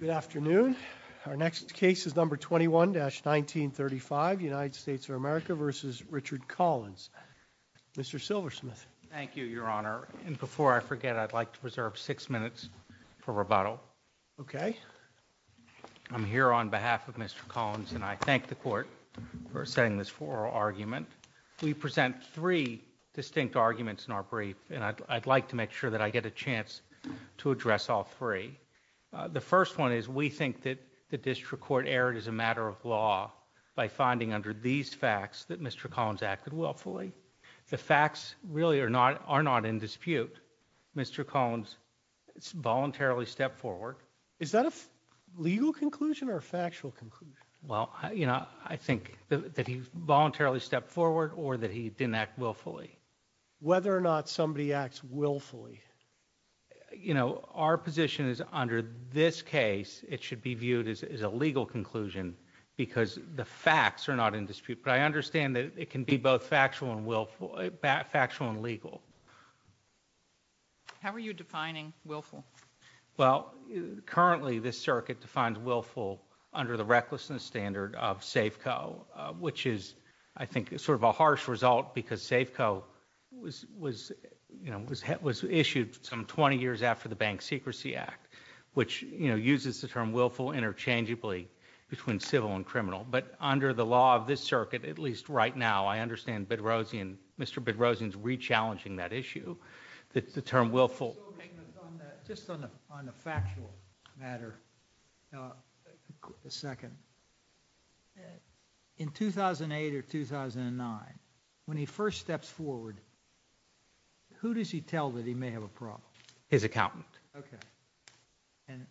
Good afternoon. Our next case is number 21-1935, United States of America v. Richard Collins. Mr. Silversmith. Thank you, Your Honor. And before I forget, I'd like to reserve six minutes for rebuttal. Okay. I'm here on behalf of Mr. Collins, and I thank the Court for setting this formal argument. We present three distinct arguments in our brief, and I'd like to make sure that I get a chance to address all three. The first one is we think that the district court erred as a matter of law by finding under these facts that Mr. Collins acted willfully. The facts really are not in dispute. Mr. Collins voluntarily stepped forward. Is that a legal conclusion or a factual conclusion? Well, you know, I think that he voluntarily stepped forward or that he didn't act willfully. Whether or not somebody acts willfully? You know, our position is under this case it should be viewed as a legal conclusion because the facts are not in dispute. But I understand that it can be both factual and legal. How are you defining willful? Well, currently this circuit defines willful under the recklessness standard of Safeco, which is, I think, sort of a harsh result because Safeco was issued some 20 years after the Bank Secrecy Act, which uses the term willful interchangeably between civil and criminal. But under the law of this circuit, at least right now, I understand Mr. Bedrosian is re-challenging that issue, the term willful. Just on a factual matter, a second. In 2008 or 2009, when he first steps forward, who does he tell that he may have a problem? His accountant. Okay. And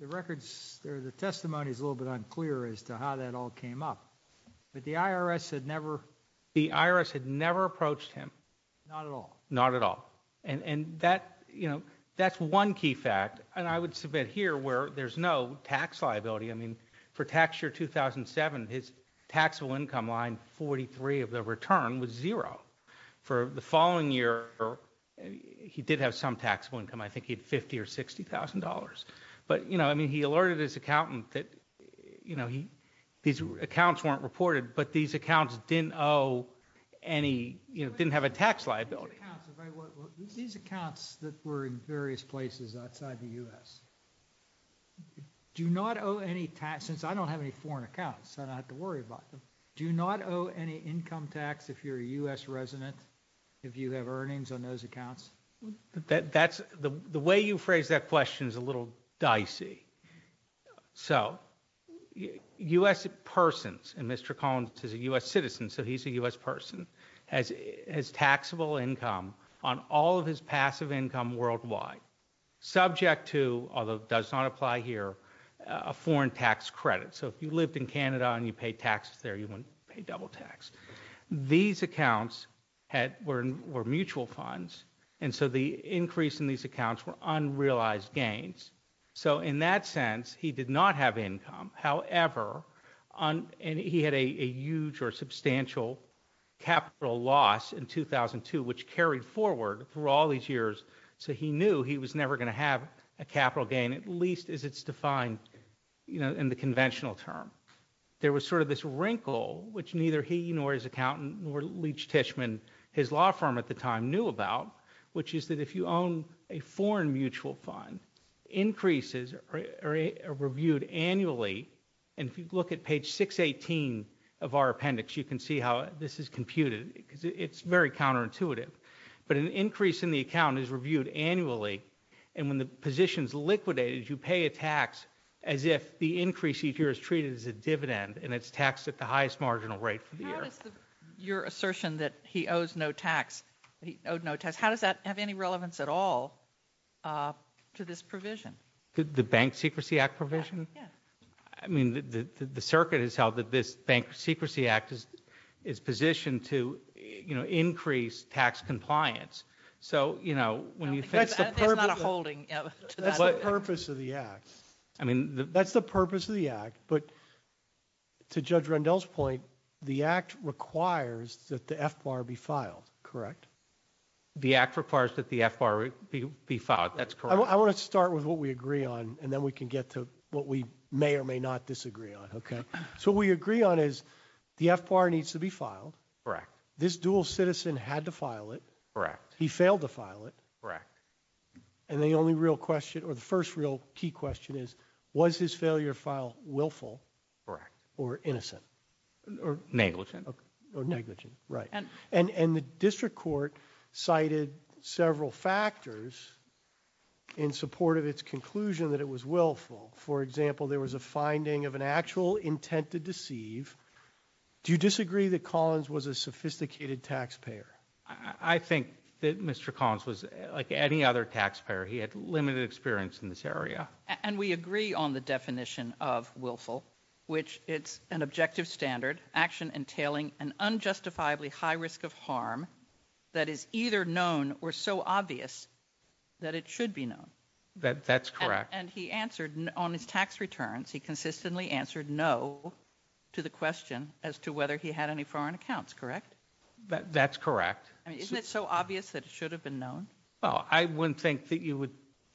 the records, the testimony is a little bit unclear as to how that all came up. But the IRS had never approached him. Not at all? Not at all. And that, you know, that's one key fact. And I would submit here where there's no tax liability. I mean, for tax year 2007, his taxable income line 43 of the return was zero. For the following year, he did have some taxable income. I think he had $50,000 or $60,000. But, you know, I mean, he alerted his accountant that, you know, these accounts weren't reported. But these accounts didn't owe any, you know, didn't have a tax liability. Well, these accounts that were in various places outside the U.S., do not owe any tax. Since I don't have any foreign accounts, I don't have to worry about them. Do you not owe any income tax if you're a U.S. resident, if you have earnings on those accounts? That's the way you phrase that question is a little dicey. So U.S. persons, and Mr. Collins is a U.S. citizen, so he's a U.S. person, has taxable income on all of his passive income worldwide, subject to, although it does not apply here, a foreign tax credit. So if you lived in Canada and you pay taxes there, you wouldn't pay double tax. These accounts were mutual funds. And so the increase in these accounts were unrealized gains. So in that sense, he did not have income. However, and he had a huge or substantial capital loss in 2002, which carried forward through all these years. So he knew he was never going to have a capital gain, at least as it's defined, you know, in the conventional term. There was sort of this wrinkle, which neither he nor his accountant, nor Leach Tishman, his law firm at the time knew about, which is that if you own a foreign mutual fund, increases are reviewed annually. And if you look at page 618 of our appendix, you can see how this is computed, because it's very counterintuitive. But an increase in the account is reviewed annually. And when the position is liquidated, you pay a tax as if the increase each year is treated as a dividend, and it's taxed at the highest marginal rate for the year. How does your assertion that he owes no tax, that he owed no tax, how does that have any relevance at all to this provision? The Bank Secrecy Act provision? Yeah. I mean, the circuit has held that this Bank Secrecy Act is positioned to, you know, increase tax compliance. So, you know, when you fix the purpose of the act. I mean, that's the purpose of the act. But to Judge Rendell's point, the act requires that the FBAR be filed, correct? The act requires that the FBAR be filed, that's correct. I want to start with what we agree on, and then we can get to what we may or may not disagree on, okay? So what we agree on is the FBAR needs to be filed. Correct. This dual citizen had to file it. Correct. He failed to file it. Correct. And the only real question, or the first real key question is, was his failure to file willful? Correct. Or innocent? Or negligent? Or negligent, right. And the district court cited several factors in support of its conclusion that it was willful. For example, there was a finding of an actual intent to deceive. Do you disagree that Collins was a sophisticated taxpayer? I think that Mr. Collins was like any other taxpayer. He had limited experience in this area. And we agree on the definition of willful, which it's an objective standard, action entailing an unjustifiably high risk of harm that is either known or so obvious that it should be known. That's correct. And he answered on his tax returns, he consistently answered no to the question as to whether he had any foreign accounts, correct? That's correct. I mean, isn't it so obvious that it should have been known? Well, I wouldn't think that you would,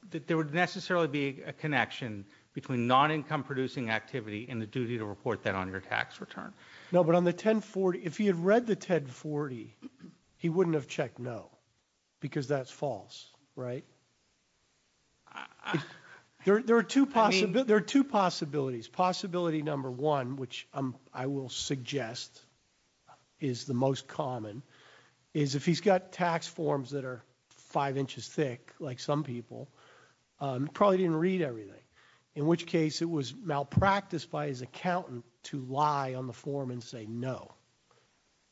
that there would necessarily be a connection between non-income producing activity and the duty to report that on your tax return. No, but on the 1040, if he had read the 1040, he wouldn't have checked no, because that's false, right? There are two possibilities. Possibility number one, which I will suggest is the most common, is if he's got tax forms that are five inches thick, like some people, probably didn't read everything. In which case it was malpracticed by his accountant to lie on the form and say no.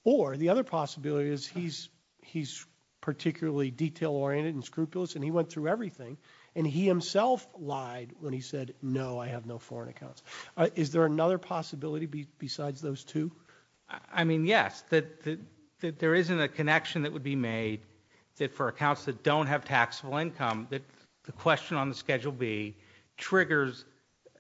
Or the other possibility is he's particularly detail-oriented and scrupulous and he went through everything and he himself lied when he said, no, I have no foreign accounts. Is there another possibility besides those two? I mean, yes, that there isn't a connection that would be made that for accounts that don't have taxable income, that the question on the Schedule B triggers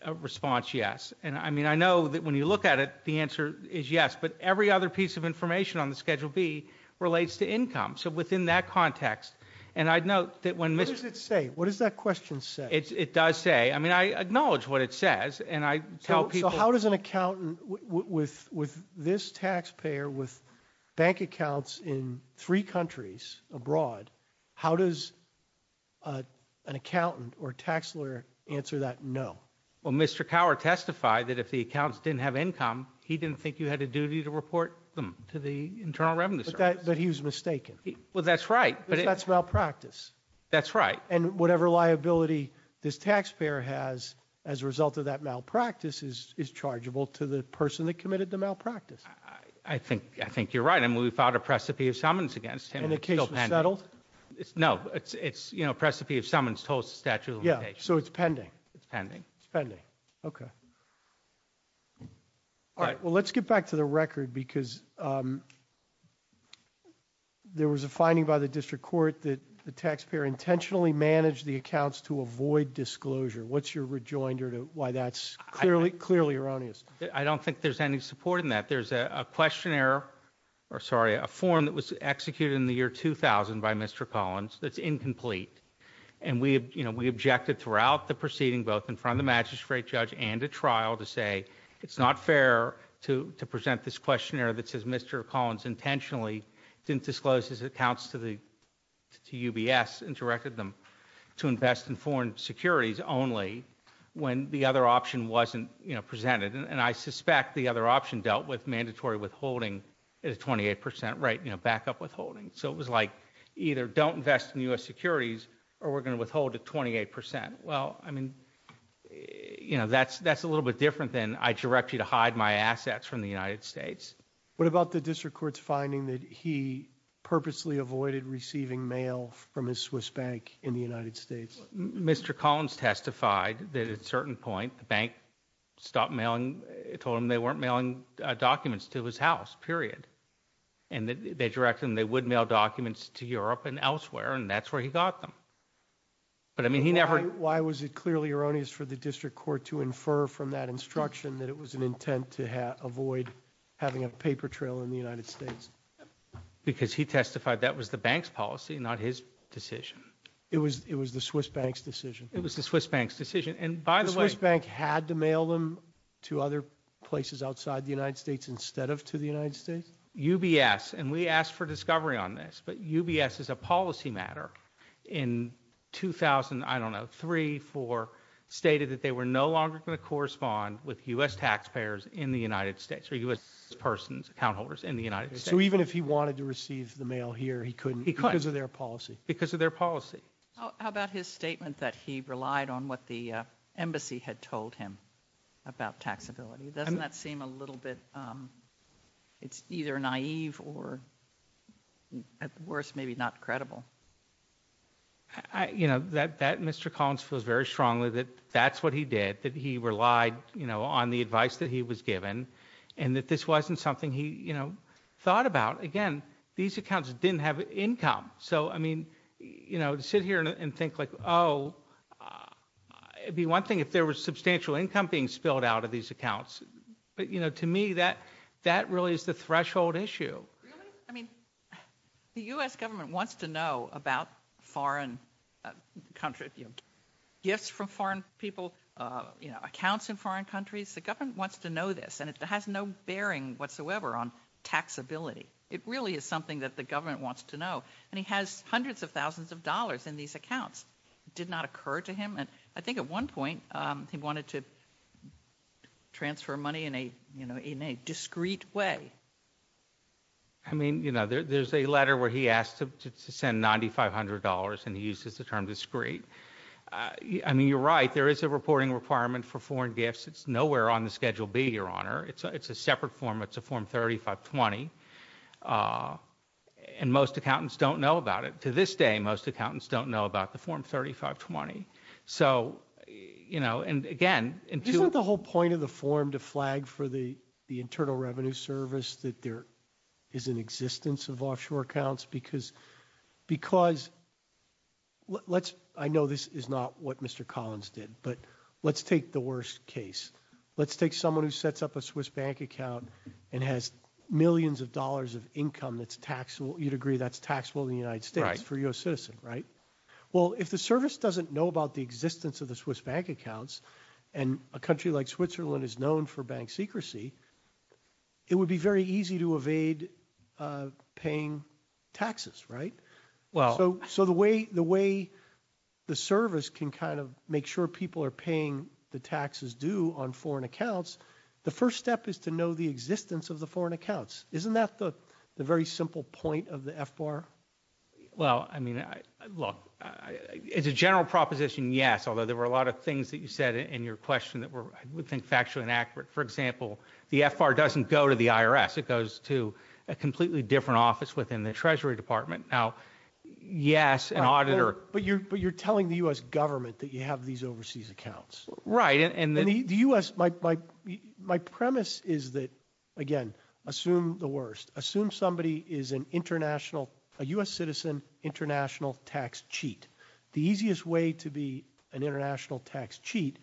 a response yes. And I mean, I know that when you look at it, the answer is yes, but every other piece of information on the Schedule B relates to income. So within that context, and I'd note that when- What does it say? What does that question say? It does say, I mean, I acknowledge what it says and I tell people- So how does an accountant with this taxpayer, with bank accounts in three countries abroad, how does an accountant or tax lawyer answer that no? Well, Mr. Cower testified that if the accounts didn't have income, he didn't think you had a duty to report them to the Internal Revenue Service. But he was mistaken. Well, that's right. Because that's malpractice. That's right. And whatever liability this taxpayer has as a result of that malpractice is chargeable to the person that committed the malpractice. I think you're right. I mean, we filed a precipe of summons against him. And the case was settled? No, it's, you know, a precipe of summons told the statute of limitations. Yeah, so it's pending. It's pending. It's pending, okay. All right, well, let's get back to the record because there was a finding by the district court that the taxpayer intentionally managed the accounts to avoid disclosure. What's your rejoinder to why that's clearly erroneous? I don't think there's any support in that. There's a questionnaire, or sorry, a form that was executed in the year 2000 by Mr. Collins that's incomplete. And we, you know, we objected throughout the proceeding, both in front of the magistrate judge and a trial, to say it's not fair to present this questionnaire that says Mr. Collins intentionally didn't disclose his accounts to UBS and directed them to invest in foreign securities only when the other option wasn't presented. And I suspect the other option dealt with mandatory withholding at a 28%, right, you know, backup withholding. So it was like either don't invest in U.S. securities or we're going to withhold to 28%. Well, I mean, you know, that's a little bit different than I direct you to hide my assets from the United States. What about the district court's finding that he purposely avoided receiving mail from his Swiss bank in the United States? Mr. Collins testified that at a certain point the bank stopped mailing, told him they weren't mailing documents to his house, period. And they directed him they would mail documents to Europe and elsewhere, and that's where he got them. But I mean, he never- Why was it clearly erroneous for the district court to infer from that instruction that it was an intent to avoid having a paper trail in the United States? Because he testified that was the bank's policy, not his decision. It was the Swiss bank's decision. It was the Swiss bank's decision. And by the way- to other places outside the United States instead of to the United States? UBS, and we asked for discovery on this, but UBS as a policy matter in 2000, I don't know, three, four, stated that they were no longer going to correspond with U.S. taxpayers in the United States, or U.S. persons, account holders in the United States. So even if he wanted to receive the mail here, he couldn't because of their policy? Because of their policy. How about his statement that he relied on what the embassy had told him? About taxability. Doesn't that seem a little bit, it's either naive or at worst, maybe not credible. You know, that Mr. Collins feels very strongly that that's what he did, that he relied, you know, on the advice that he was given, and that this wasn't something he, you know, thought about. Again, these accounts didn't have income. So, I mean, you know, to sit here and think like, oh, it'd be one thing if there was substantial income being spilled out of these accounts. But, you know, to me, that really is the threshold issue. Really? I mean, the U.S. government wants to know about foreign country, you know, gifts from foreign people, you know, accounts in foreign countries. The government wants to know this, and it has no bearing whatsoever on taxability. It really is something that the government wants to know. And he has hundreds of thousands of dollars in these accounts. It did not occur to him, I think at one point, he wanted to transfer money in a, you know, in a discreet way. I mean, you know, there's a letter where he asked to send $9,500, and he uses the term discreet. I mean, you're right. There is a reporting requirement for foreign gifts. It's nowhere on the Schedule B, Your Honor. It's a separate form. It's a Form 3520. And most accountants don't know about it. To this day, most accountants don't know about the Form 3520. So, you know, and again, Isn't that the whole point of the form to flag for the Internal Revenue Service that there is an existence of offshore accounts? Because, I know this is not what Mr. Collins did, but let's take the worst case. Let's take someone who sets up a Swiss bank account and has millions of dollars of income that's taxable. You'd agree that's taxable in the United States for a U.S. citizen, right? Well, if the service doesn't know about the existence of the Swiss bank accounts, and a country like Switzerland is known for bank secrecy, it would be very easy to evade paying taxes, right? So the way the service can kind of make sure people are paying the taxes due on foreign accounts, the first step is to know the existence of the foreign accounts. Isn't that the very simple point of the FBAR? Well, I mean, look, it's a general proposition, yes, although there were a lot of things that you said in your question that were, I would think, factually inaccurate. For example, the FBAR doesn't go to the IRS. It goes to a completely different office within the Treasury Department. Now, yes, an auditor... But you're telling the U.S. government that you have these overseas accounts. Right, and the U.S. My premise is that, again, assume the worst. A U.S. citizen international tax cheat. The easiest way to be an international tax cheat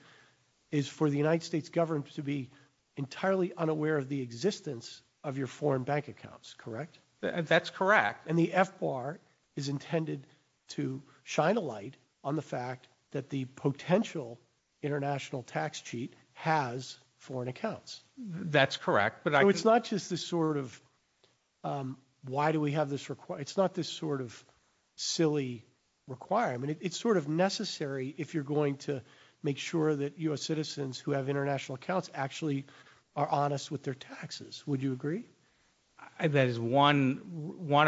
is for the United States government to be entirely unaware of the existence of your foreign bank accounts, correct? That's correct. And the FBAR is intended to shine a light on the fact that the potential international tax cheat has foreign accounts. That's correct. So it's not just this sort of, why do we have this requirement? It's not this sort of silly requirement. It's sort of necessary if you're going to make sure that U.S. citizens who have international accounts actually are honest with their taxes. Would you agree? That is one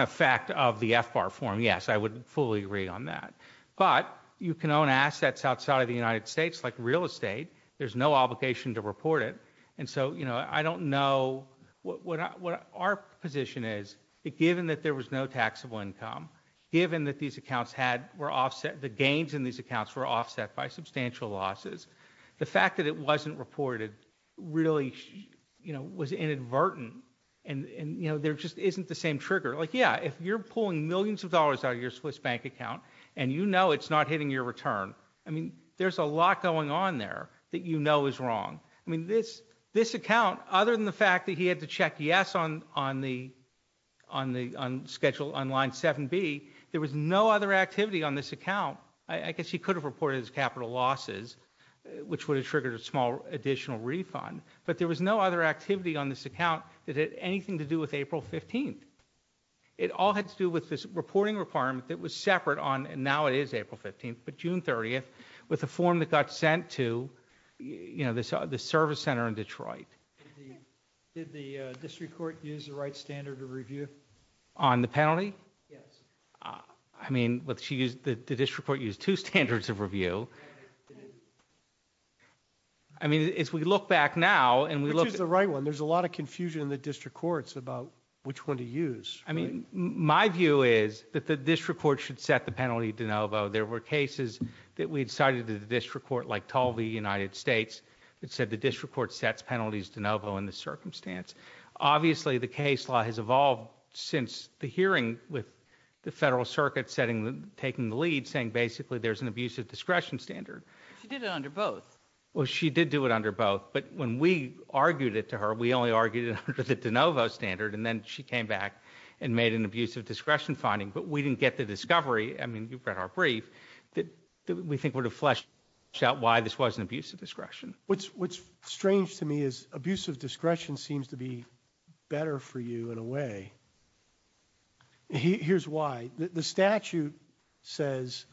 effect of the FBAR form, yes. I would fully agree on that. But you can own assets outside of the United States, like real estate. There's no obligation to report it. And so, you know, I don't know... Our position is that given that there was no taxable income, given that these accounts were offset, the gains in these accounts were offset by substantial losses, the fact that it wasn't reported really, you know, was inadvertent. And, you know, there just isn't the same trigger. Like, yeah, if you're pulling millions of dollars out of your Swiss bank account and you know it's not hitting your return, I mean, there's a lot going on there that you know is wrong. I mean, this account, other than the fact that he had to check yes on the schedule on line 7B, there was no other activity on this account. I guess he could have reported his capital losses, which would have triggered a small additional refund. But there was no other activity on this account that had anything to do with April 15th. It all had to do with this reporting requirement that was separate on, and now it is April 15th, but June 30th, with a form that got sent to, you know, the service center in Detroit. Did the district court use the right standard of review? On the penalty? Yes. I mean, the district court used two standards of review. I mean, as we look back now, and we look- Which is the right one? There's a lot of confusion in the district courts about which one to use. I mean, my view is that the district court should set the penalty de novo. There were cases that we decided that the district court, like Talvey United States, that said the district court sets penalties de novo in this circumstance. Obviously, the case law has evolved since the hearing with the federal circuit setting, taking the lead, saying basically there's an abusive discretion standard. She did it under both. Well, she did do it under both, but when we argued it to her, we only argued it under the de novo standard, and then she came back and made an abusive discretion finding. But we didn't get the discovery, I mean, you've read our brief, that we think would have fleshed out why this wasn't abusive discretion. What's strange to me is abusive discretion seems to be better for you in a way. Here's why. The statute says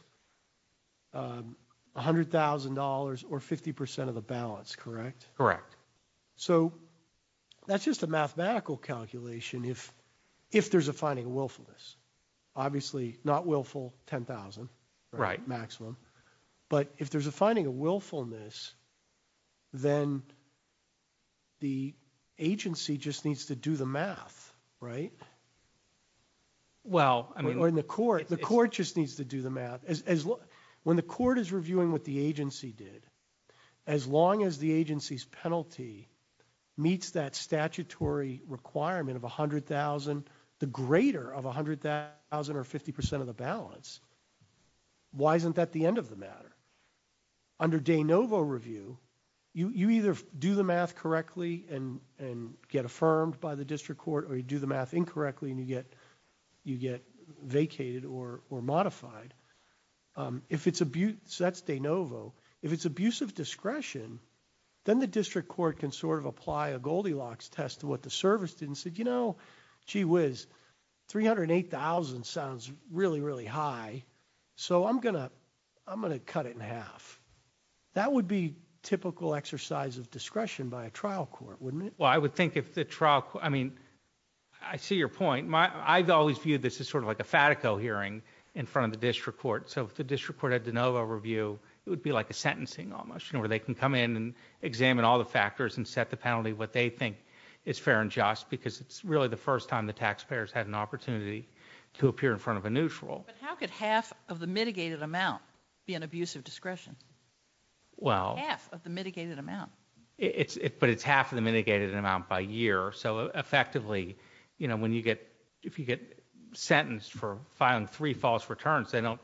$100,000 or 50% of the balance, correct? Correct. So that's just a mathematical calculation if there's a finding of willfulness. Obviously, not willful, 10,000 maximum. But if there's a finding of willfulness, then the agency just needs to do the math, right? Well, I mean... Or in the court, the court just needs to do the math. When the court is reviewing what the agency did, as long as the agency's penalty meets that statutory requirement of 100,000, the greater of 100,000 or 50% of the balance, why isn't that the end of the matter? Under de novo review, you either do the math correctly and get affirmed by the district court, or you do the math incorrectly and you get vacated or modified. That's de novo. If it's abusive discretion, then the district court can sort of apply a Goldilocks test to what the service did and said, you know, gee whiz, 308,000 sounds really, really high. So I'm gonna cut it in half. That would be typical exercise of discretion by a trial court, wouldn't it? Well, I would think if the trial... I mean, I see your point. I've always viewed this as sort of like a Fatico hearing in front of the district court. So if the district court had de novo review, it would be like a sentencing almost, you know, where they can come in and examine all the factors and set the penalty what they think is fair and just, because it's really the first time the taxpayers had an opportunity to appear in front of a neutral. How could half of the mitigated amount be an abusive discretion? Well, half of the mitigated amount. But it's half of the mitigated amount by year. So effectively, you know, when you get, if you get sentenced for filing three false returns, they don't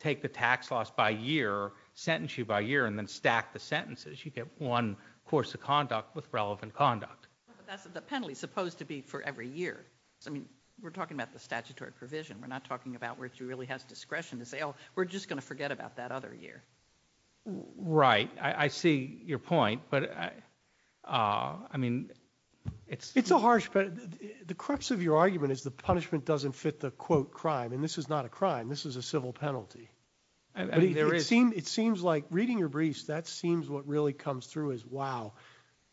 take the tax loss by year, sentence you by year and then stack the sentences. You get one course of conduct with relevant conduct. That's the penalty supposed to be for every year. I mean, we're talking about the statutory provision. We're not talking about where she really has discretion to say, oh, we're just going to forget about that other year. Right. I see your point. But I mean, it's a harsh, but the crux of your argument is the punishment doesn't fit the quote crime. And this is not a crime. This is a civil penalty. It seems like reading your briefs, that seems what really comes through as wow.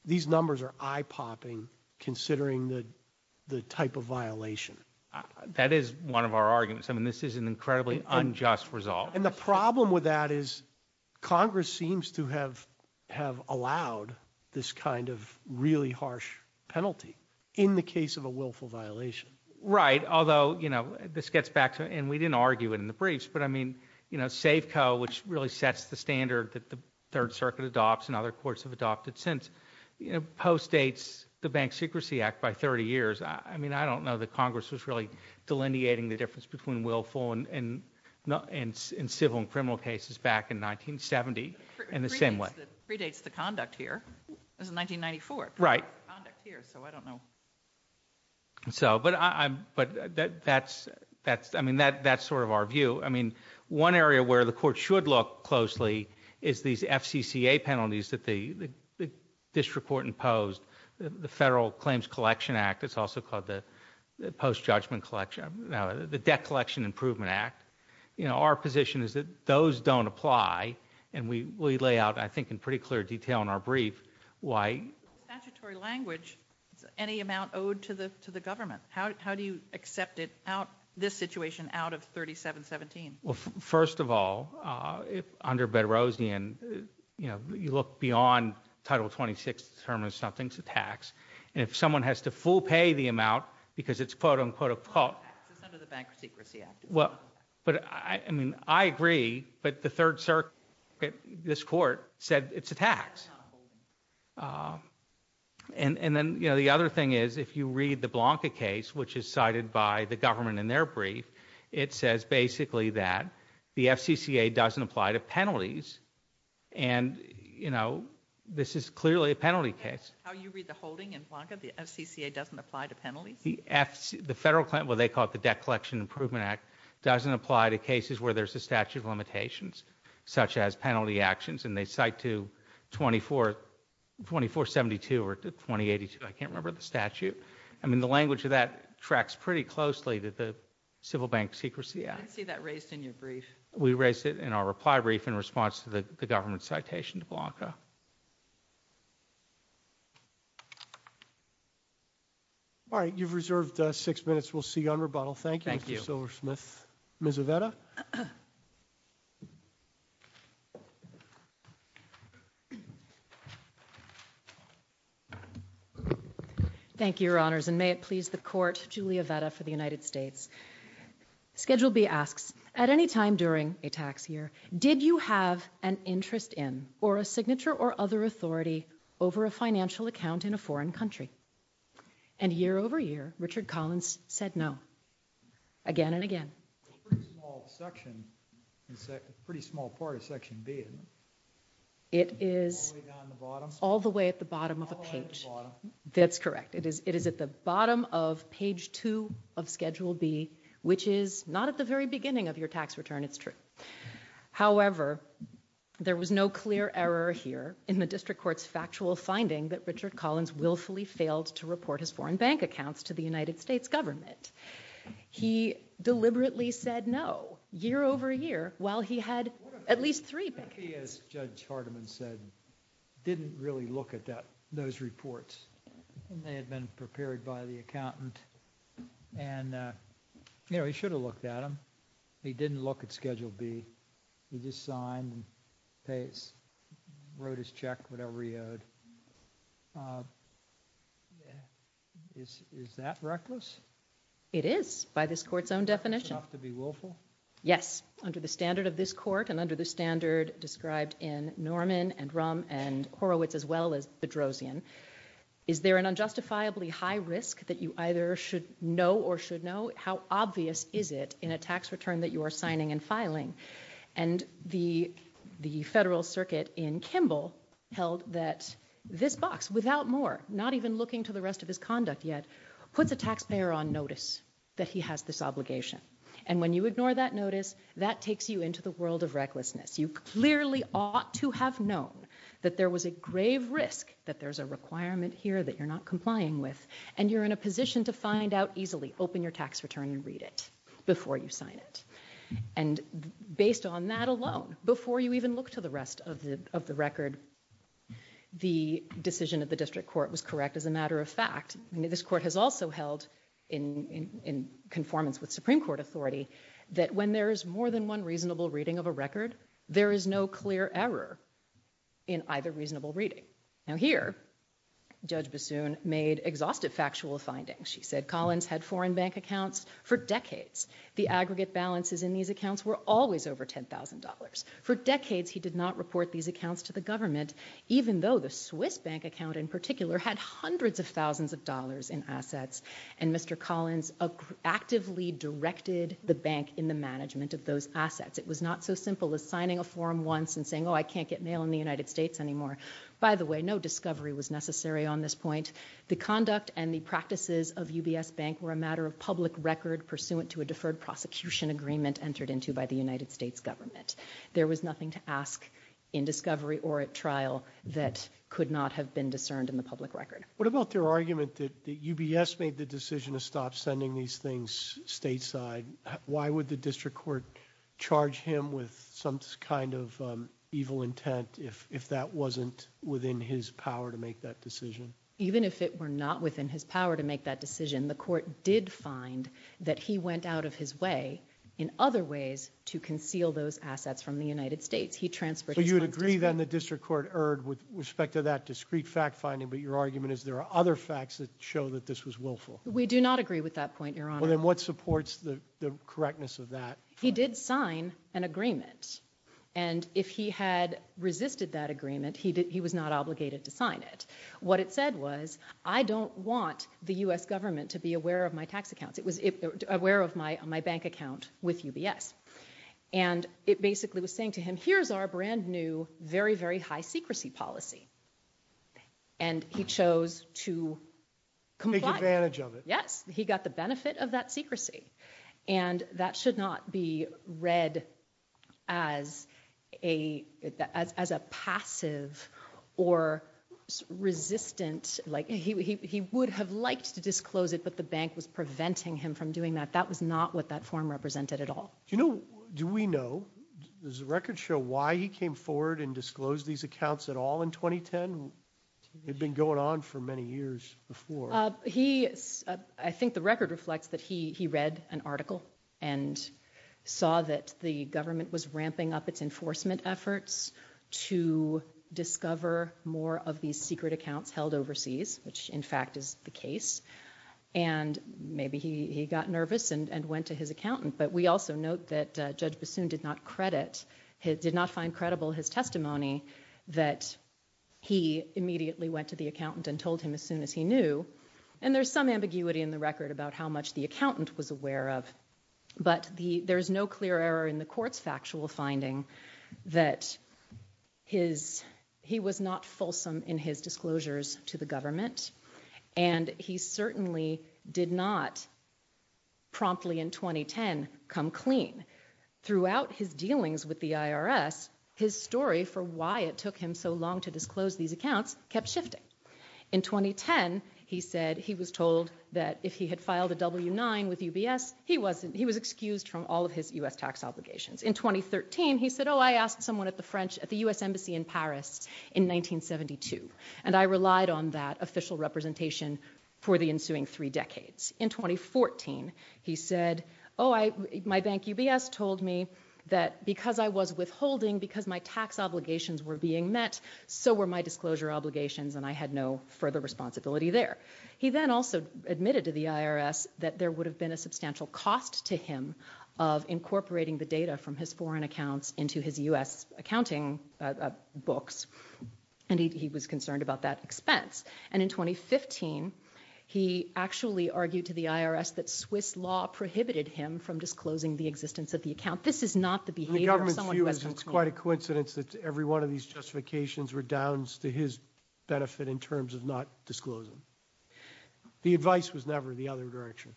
These numbers are eye popping considering the type of violation. That is one of our arguments. I mean, this is an incredibly unjust result. And the problem with that is Congress seems to have have allowed this kind of really harsh penalty in the case of a willful violation. Right. Although, you know, this gets back to and we didn't argue it in the briefs, but I mean, you know, Safeco, which really sets the standard that the Third Circuit adopts and other courts have adopted since, postdates the Bank Secrecy Act by 30 years. I mean, I don't know that Congress was really delineating the difference between willful and civil and criminal cases back in 1970 in the same way. It predates the conduct here. It was in 1994. Right. Conduct here, so I don't know. So, but that's, I mean, that's sort of our view. I mean, one area where the court should look closely is these FCCA penalties that the district court imposed. The Federal Claims Collection Act, it's also called the Post-Judgment Collection, the Debt Collection Improvement Act. You know, our position is that those don't apply and we lay out, I think, in pretty clear detail in our brief why. Statutory language, any amount owed to the government. How do you accept it out, this situation out of 3717? Well, first of all, if under Bedrosian, you know, you look beyond Title 26 to determine something's a tax and if someone has to full pay the amount because it's quote, unquote, a quote. It's under the Bank Secrecy Act. Well, but I mean, I agree, but the Third Circuit, this court said it's a tax. And then, you know, the other thing is if you read the Blanca case, which is cited by the government in their brief, it says basically that the FCCA doesn't apply to penalties and, you know, this is clearly a penalty case. How you read the holding in Blanca, the FCCA doesn't apply to penalties? The federal claim, well, they call it the Debt Collection Improvement Act, doesn't apply to cases where there's a statute of limitations such as penalty actions and they cite to 2472 or 2082. I can't remember the statute. I mean, the language of that tracks pretty closely to the Civil Bank Secrecy Act. I didn't see that raised in your brief. We raised it in our reply brief in response to the government citation to Blanca. All right, you've reserved six minutes. We'll see you on rebuttal. Thank you, Mr. Silversmith. Ms. Avetta. Thank you, Your Honors, and may it please the Court, Julia Avetta for the United States. Schedule B asks, at any time during a tax year, did you have an interest in, or a signature or other authority over a financial account in a foreign country? And year over year, Richard Collins said no, again and again. It's a pretty small section. It's a pretty small part of Section B, isn't it? It is all the way at the bottom of a page. That's correct. It is at the bottom of page two of Schedule B, which is not at the very beginning of your tax return, it's true. However, there was no clear error here in the district court's factual finding that Richard Collins willfully failed to report his foreign bank accounts to the United States government. He deliberately said no year over year while he had at least three bank accounts. Maybe, as Judge Hardiman said, didn't really look at those reports. And they had been prepared by the accountant. And, you know, he should have looked at them. He didn't look at Schedule B. He just signed and wrote his check, whatever he owed. Is that reckless? It is, by this court's own definition. Enough to be willful? Yes, under the standard of this court and under the standard described in Norman and Rum and Horowitz, as well as the Drozian. Is there an unjustifiably high risk that you either should know or should know? How obvious is it in a tax return that you are signing and filing? And the Federal Circuit in Kimball held that this box, without more, not even looking to the rest of his conduct yet, puts a taxpayer on notice that he has this obligation. And when you ignore that notice, that takes you into the world of recklessness. You clearly ought to have known that there was a grave risk, that there's a requirement here that you're not complying with, and you're in a position to find out easily. Open your tax return and read it before you sign it. And based on that alone, before you even look to the rest of the record, the decision of the district court was correct as a matter of fact. This court has also held, in conformance with Supreme Court authority, that when there is more than one reasonable reading of a record, there is no clear error in either reasonable reading. Now here, Judge Bassoon made exhaustive factual findings. She said Collins had foreign bank accounts for decades. The aggregate balances in these accounts were always over $10,000. For decades, he did not report these accounts to the government, even though the Swiss bank account in particular had hundreds of thousands of dollars in assets. And Mr. Collins actively directed the bank in the management of those assets. It was not so simple as signing a form once and saying, oh, I can't get mail in the United States anymore. By the way, no discovery was necessary on this point. The conduct and the practices of UBS Bank were a matter of public record pursuant to a deferred prosecution agreement entered into by the United States government. There was nothing to ask in discovery or at trial that could not have been discerned in the public record. What about their argument that UBS made the decision to stop sending these things stateside? Why would the district court charge him with some kind of evil intent if that wasn't within his power to make that decision? Even if it were not within his power to make that decision, the court did find that he went out of his way in other ways to conceal those assets from the United States. He transferred his funds to Spain. So you would agree then the district court erred with respect to that discrete fact finding, but your argument is there are other facts that show that this was willful. We do not agree with that point, Your Honor. Well, then what supports the correctness of that? He did sign an agreement. And if he had resisted that agreement, he was not obligated to sign it. What it said was, I don't want the U.S. government to be aware of my tax accounts. It was aware of my bank account with UBS. And it basically was saying to him, here's our brand new, very, very high secrecy policy. And he chose to comply. Take advantage of it. Yes, he got the benefit of that secrecy. And that should not be read as a passive or resistant, like he would have liked to disclose it, but the bank was preventing him from doing that. That was not what that form represented at all. Do you know, do we know, does the record show why he came forward and disclosed these accounts at all in 2010? They'd been going on for many years before. I think the record reflects that he read an article and saw that the government was ramping up its enforcement efforts to discover more of these secret accounts held overseas, which in fact is the case. And maybe he got nervous and went to his accountant. But we also note that Judge Bassoon did not credit, did not find credible his testimony that he immediately went to the accountant and told him as soon as he knew. And there's some ambiguity in the record about how much the accountant was aware of. But there's no clear error in the court's factual finding that he was not fulsome in his disclosures to the government. And he certainly did not promptly in 2010 come clean. Throughout his dealings with the IRS, his story for why it took him so long to disclose these accounts kept shifting. In 2010, he said he was told that if he had filed a W-9 with UBS, he was excused from all of his U.S. tax obligations. In 2013, he said, oh, I asked someone at the French, at the U.S. Embassy in Paris in 1972. And I relied on that official representation for the ensuing three decades. In 2014, he said, oh, my bank UBS told me that because I was withholding, because my tax obligations were being met, so were my disclosure obligations and I had no further responsibility there. He then also admitted to the IRS that there would have been a substantial cost to him of incorporating the data from his foreign accounts into his U.S. accounting books. And he was concerned about that expense. And in 2015, he actually argued to the IRS that Swiss law prohibited him from disclosing the existence of the account. This is not the behavior of someone who has been clean. In the government's view, it's quite a coincidence that every one of these justifications were down to his benefit in terms of not disclosing. The advice was never the other direction.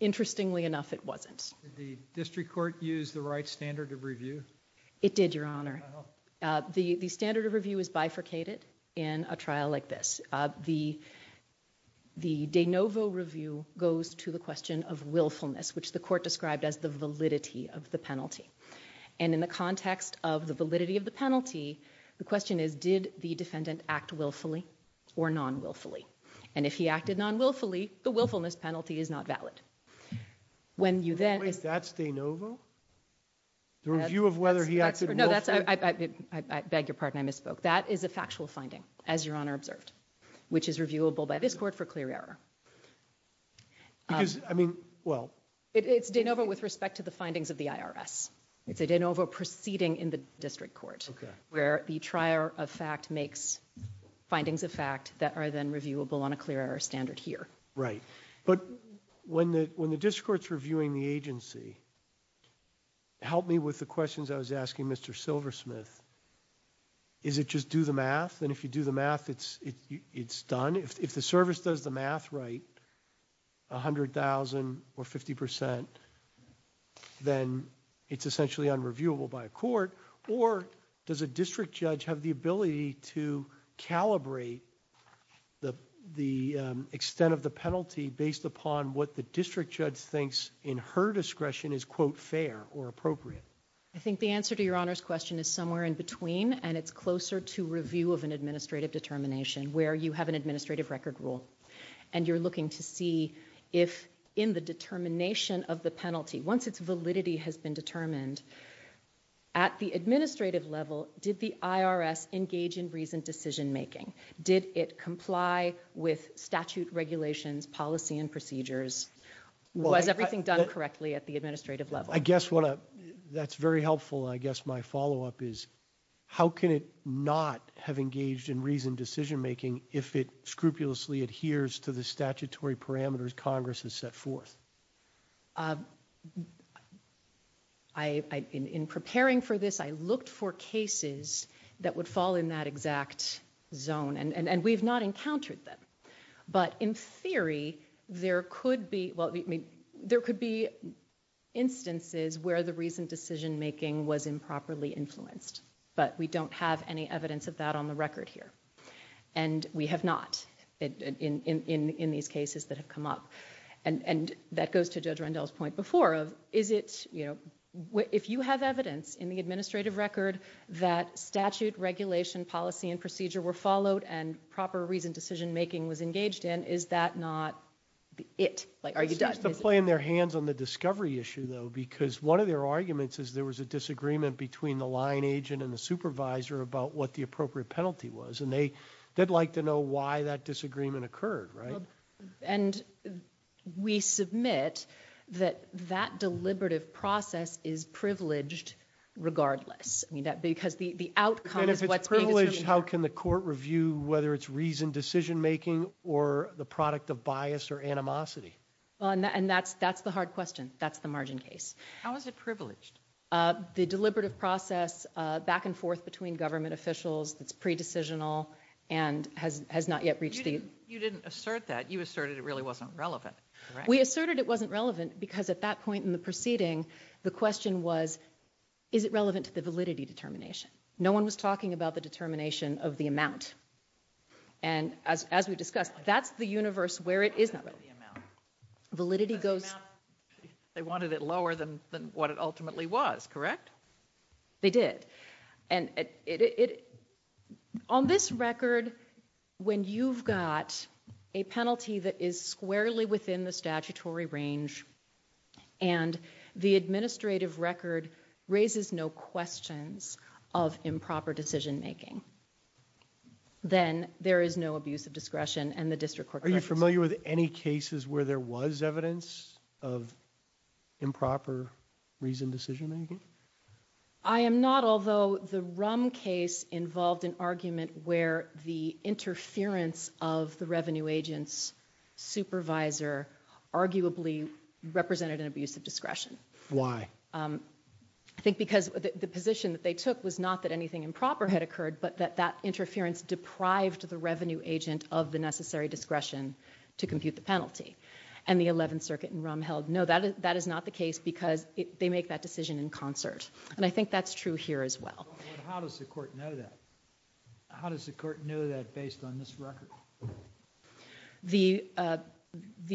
Interestingly enough, it wasn't. Did the district court use the right standard of review? It did, Your Honor. The standard of review is bifurcated in a trial like this. The de novo review goes to the question of willfulness, which the court described as the validity of the penalty. And in the context of the validity of the penalty, the question is, did the defendant act willfully or non-willfully? And if he acted non-willfully, the willfulness penalty is not valid. Wait, that's de novo? The review of whether he acted willfully? No, I beg your pardon, I misspoke. That is a factual finding, as Your Honor observed, which is reviewable by this court for clear error. Because, I mean, well... It's de novo with respect to the findings of the IRS. It's a de novo proceeding in the district court where the trier of fact makes findings of fact that are then reviewable on a clear error standard here. Right. But when the district court's reviewing the agency, help me with the questions I was asking Mr. Silversmith. Is it just do the math? And if you do the math, it's done? If the service does the math right, 100,000 or 50%, then it's essentially unreviewable by a court. Or does a district judge have the ability to calibrate the extent of the penalty based upon what the district judge thinks in her discretion is, quote, fair or appropriate? I think the answer to Your Honor's question is somewhere in between, and it's closer to review of an administrative determination where you have an administrative record rule. And you're looking to see if in the determination of the penalty, once its validity has been determined, at the administrative level, did the IRS engage in reasoned decision-making? Did it comply with statute regulations, policy and procedures? Was everything done correctly at the administrative level? I guess that's very helpful. I guess my follow-up is, how can it not have engaged in reasoned decision-making if it scrupulously adheres to the statutory parameters Congress has set forth? I, in preparing for this, I looked for cases that would fall in that exact zone, and we've not encountered them. But in theory, there could be, well, there could be instances where the reasoned decision-making was improperly influenced. But we don't have any evidence of that on the record here. And we have not in these cases that have come up. And that goes to Judge Rendell's point before of, is it, you know, if you have evidence in the administrative record that statute, regulation, policy and procedure were followed and proper reasoned decision-making was engaged in, is that not it? Like, are you done? It seems to play in their hands on the discovery issue, though, because one of their arguments is there was a disagreement between the line agent and the supervisor about what the appropriate penalty was. And they'd like to know why that disagreement occurred, right? And we submit that that deliberative process is privileged regardless. I mean, because the outcome is what's being- And if it's privileged, how can the court review whether it's reasoned decision-making or the product of bias or animosity? Well, and that's the hard question. That's the margin case. How is it privileged? The deliberative process, back and forth between government officials, that's pre-decisional and has not yet reached the- You didn't assert that. You asserted it really wasn't relevant, correct? We asserted it wasn't relevant because at that point in the proceeding, the question was, is it relevant to the validity determination? No one was talking about the determination of the amount. And as we discussed, that's the universe where it is not relevant. Validity goes- The amount, they wanted it lower than what it ultimately was, correct? They did. And on this record, when you've got a penalty that is squarely within the statutory range and the administrative record raises no questions of improper decision-making, then there is no abuse of discretion and the district court- Are you familiar with any cases where there was evidence of improper reasoned decision-making? I am not, although the Rum case involved an argument where the interference of the revenue agent's supervisor arguably represented an abuse of discretion. Why? I think because the position that they took was not that anything improper had occurred, but that that interference deprived the revenue agent of the necessary discretion to compute the penalty. And the 11th Circuit in Rum held, no, that is not the case because they make that decision in concert. And I think that's true here as well. How does the court know that? How does the court know that based on this record? The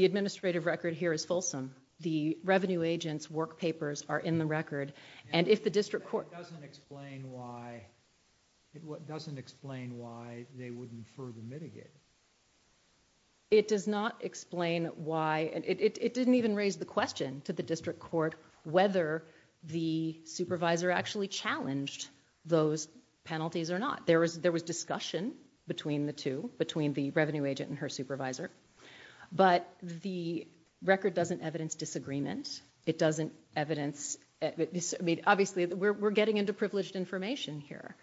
administrative record here is fulsome. The revenue agent's work papers are in the record. And if the district court- It doesn't explain why they wouldn't further mitigate it. It does not explain why, and it didn't even raise the question to the district court whether the supervisor actually challenged those penalties or not. There was discussion between the two, between the revenue agent and her supervisor. But the record doesn't evidence disagreement. It doesn't evidence, obviously, we're getting into privileged information here.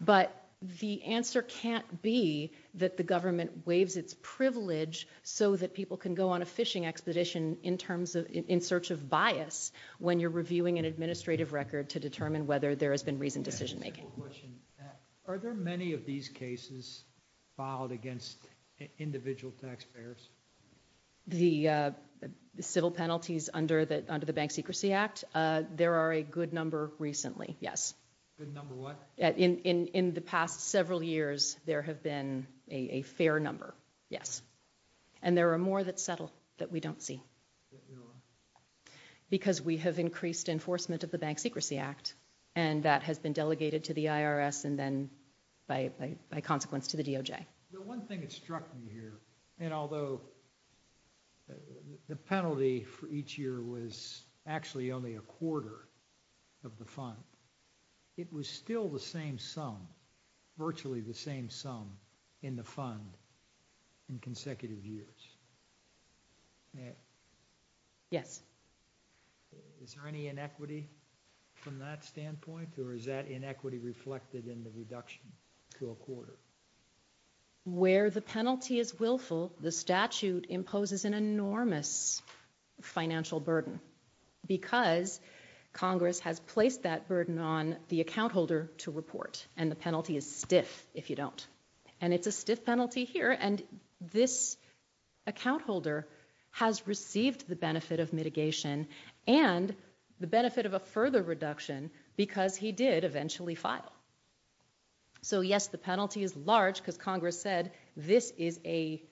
But the answer can't be that the government waives its privilege so that people can go on a fishing expedition in search of bias when you're reviewing an administrative record to determine whether there has been reasoned decision-making. Are there many of these cases filed against individual taxpayers? The civil penalties under the Bank Secrecy Act, there are a good number recently, yes. Good number what? In the past several years, there have been a fair number, yes. And there are more that settle that we don't see. Because we have increased enforcement of the Bank Secrecy Act, and that has been delegated to the IRS and then by consequence to the DOJ. The one thing that struck me here, and although the penalty for each year was actually only a quarter of the fund, it was still the same sum, virtually the same sum in the fund in consecutive years. Yes. Is there any inequity from that standpoint? Or is that inequity reflected in the reduction to a quarter? Where the penalty is willful, the statute imposes an enormous financial burden. Because Congress has placed that burden on the account holder to report and the penalty is stiff if you don't. And it's a stiff penalty here. And this account holder has received the benefit of mitigation and the benefit of a further reduction because he did eventually file. So yes, the penalty is large because Congress said this is a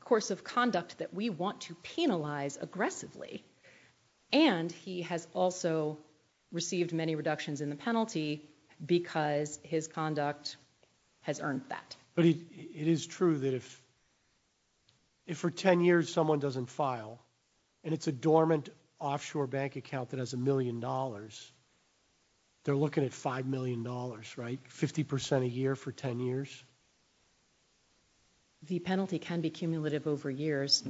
course of conduct that we want to penalize aggressively. And he has also received many reductions in the penalty because his conduct has earned that. But it is true that if for 10 years someone doesn't file and it's a dormant offshore bank account that has a million dollars, they're looking at $5 million, right? 50% a year for 10 years? The penalty can be cumulative over years,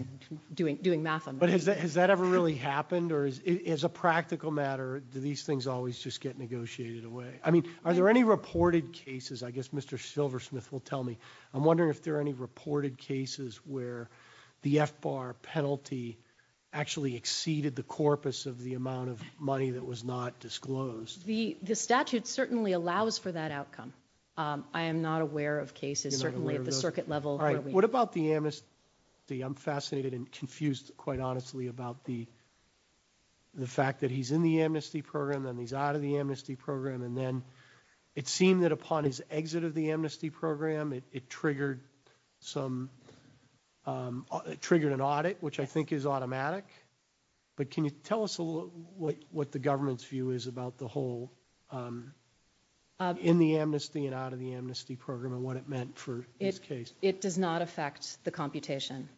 doing math on that. But has that ever really happened or as a practical matter, do these things always just get negotiated away? I mean, are there any reported cases? I guess Mr. Silversmith will tell me. I'm wondering if there are any reported cases where the FBAR penalty actually exceeded the corpus of the amount of money that was not disclosed. The statute certainly allows for that outcome. I am not aware of cases, certainly at the circuit level. All right, what about the amnesty? I'm fascinated and confused, quite honestly, about the fact that he's in the amnesty program and he's out of the amnesty program. And then it seemed that upon his exit of the amnesty program, it triggered an audit, which I think is automatic. But can you tell us a little what the government's view is about the whole in the amnesty and out of the amnesty program and what it meant for this case? It does not affect the computation.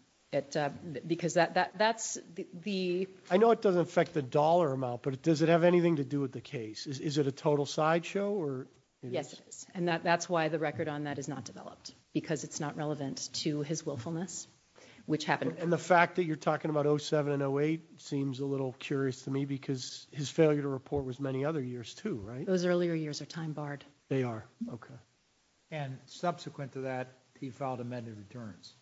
Because that's the... I know it doesn't affect the dollar amount, but does it have anything to do with the case? Is it a total sideshow or... Yes, it is. And that's why the record on that is not developed, because it's not relevant to his willfulness, which happened... And the fact that you're talking about 07 and 08 seems a little curious to me because his failure to report was many other years too, right? Those earlier years are time barred. They are, okay. And subsequent to that, he filed amended returns.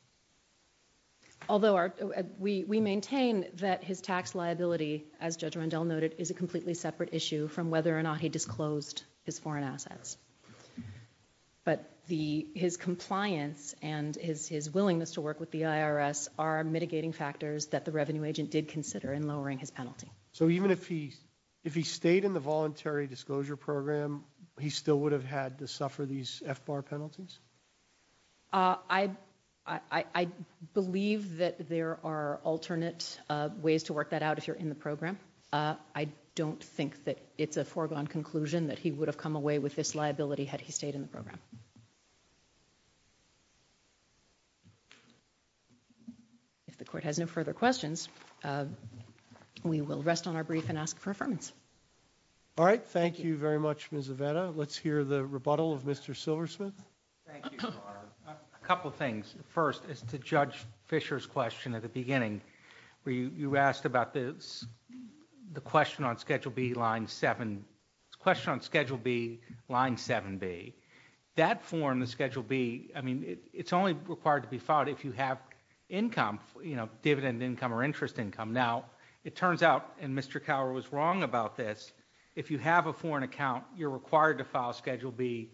Although we maintain that his tax liability, as Judge Rondell noted, is a completely separate issue from whether or not he disclosed his foreign assets. But his compliance and his willingness to work with the IRS are mitigating factors that the revenue agent did consider in lowering his penalty. So even if he stayed in the voluntary disclosure program, he still would have had to suffer these FBAR penalties? I believe that there are alternate ways to work that out if you're in the program. I don't think that it's a foregone conclusion that he would have come away with this liability had he stayed in the program. If the court has no further questions, we will rest on our brief and ask for affirmance. All right, thank you very much, Ms. Aveda. Let's hear the rebuttal of Mr. Silversmith. Thank you, Your Honor. A couple of things. First, as to Judge Fischer's question at the beginning, where you asked about the question on Schedule B, line seven, question on Schedule B, line 7B, that form, the Schedule B, I mean, it's only required to be filed if you have income, you know, dividend income or interest income. Now, it turns out, and Mr. Cowher was wrong about this, if you have a foreign account, you're required to file Schedule B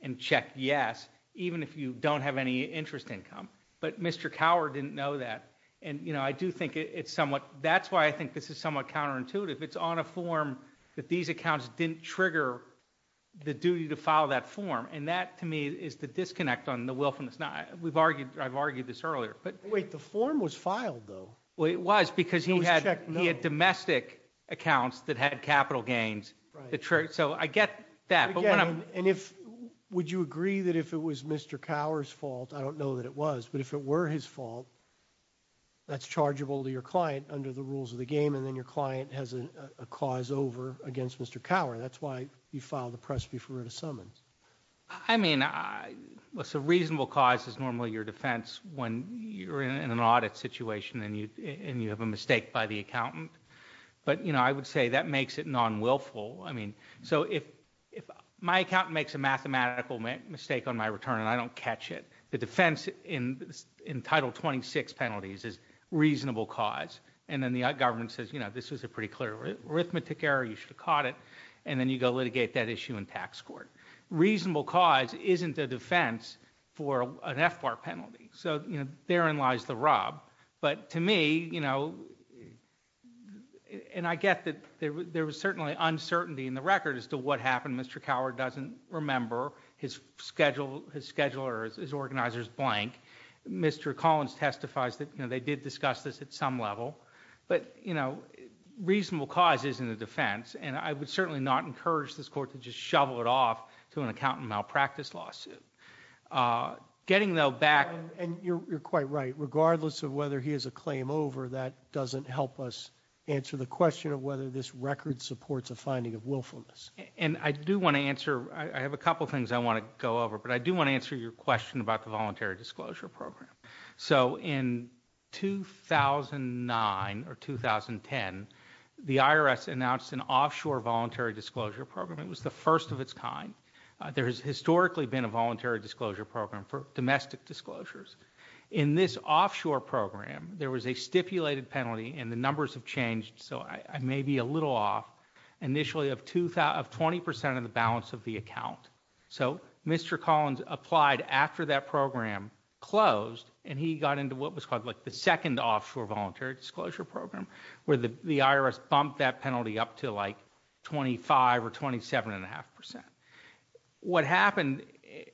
and check yes, even if you don't have any interest income. But Mr. Cowher didn't know that. And, you know, I do think it's somewhat, that's why I think this is somewhat counterintuitive. It's on a form that these accounts didn't trigger the duty to file that form. And that, to me, is the disconnect on the willfulness. We've argued, I've argued this earlier. But wait, the form was filed, though. Well, it was because he had domestic accounts that had capital gains. So I get that. And if, would you agree that if it was Mr. Cowher's fault, I don't know that it was, but if it were his fault, that's chargeable to your client under the rules of the game. And then your client has a cause over against Mr. Cowher. That's why you filed the press before the summons. I mean, what's a reasonable cause is normally your defense when you're in an audit situation and you have a mistake by the accountant. But, you know, I would say that makes it non-willful. I mean, so if my accountant makes a mathematical mistake on my return and I don't catch it, the defense in Title 26 penalties is reasonable cause. And then the government says, you know, this was a pretty clear arithmetic error. You should have caught it. And then you go litigate that issue in tax court. Reasonable cause isn't a defense for an FBAR penalty. So, you know, therein lies the rob. But to me, you know, and I get that there was certainly uncertainty in the record as to what happened. Mr. Cowher doesn't remember his schedule or his organizer's blank. Mr. Collins testifies that, you know, they did discuss this at some level. But, you know, reasonable cause isn't a defense. And I would certainly not encourage this court to just shovel it off to an accountant malpractice lawsuit. Getting though back. And you're quite right. Regardless of whether he has a claim over, that doesn't help us answer the question of whether this record supports a finding of willfulness. And I do want to answer. I have a couple of things I want to go over, but I do want to answer your question about the voluntary disclosure program. So in 2009 or 2010, the IRS announced an offshore voluntary disclosure program. It was the first of its kind. There has historically been a voluntary disclosure program for domestic disclosures. In this offshore program, there was a stipulated penalty, and the numbers have changed, so I may be a little off, initially of 20% of the balance of the account. So Mr. Collins applied after that program closed, and he got into what was called like the second offshore voluntary disclosure program, where the IRS bumped that penalty up to like 25 or 27 and a half percent. What happened,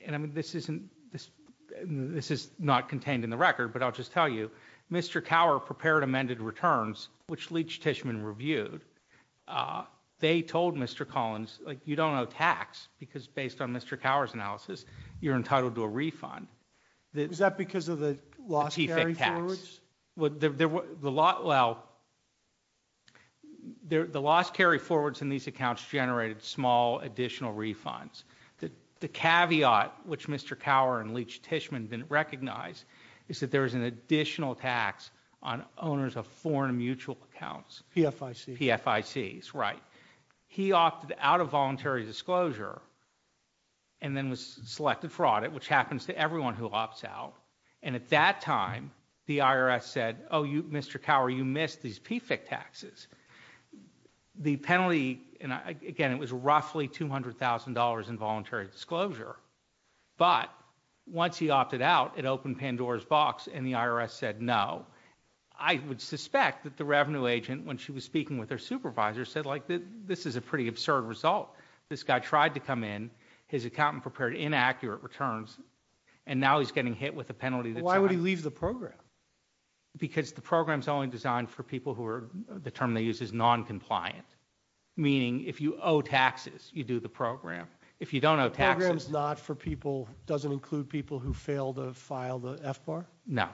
and I mean, this is not contained in the record, but I'll just tell you, Mr. Cower prepared amended returns, which Leitch Tishman reviewed. They told Mr. Collins, like, you don't owe tax, because based on Mr. Cower's analysis, you're entitled to a refund. Is that because of the lost carry-forwards? Well, the lost carry-forwards in these accounts generated small additional refunds. The caveat, which Mr. Cower and Leitch Tishman didn't recognize, is that there was an additional tax on owners of foreign mutual accounts. PFICs. PFICs, right. He opted out of voluntary disclosure and then was selected for audit, which happens to everyone who opts out. And at that time, the IRS said, oh, you, Mr. Cower, you missed these PFIC taxes. The penalty, and again, it was roughly $200,000 in voluntary disclosure. But once he opted out, it opened Pandora's box and the IRS said no. I would suspect that the revenue agent, when she was speaking with her supervisor, said, like, this is a pretty absurd result. This guy tried to come in, his accountant prepared inaccurate returns, and now he's getting hit with a penalty. Why would he leave the program? Because the program's only designed for people who are, the term they use is non-compliant. Meaning, if you owe taxes, you do the program. If you don't owe taxes- The program's not for people, doesn't include people who fail to file the FBAR? No,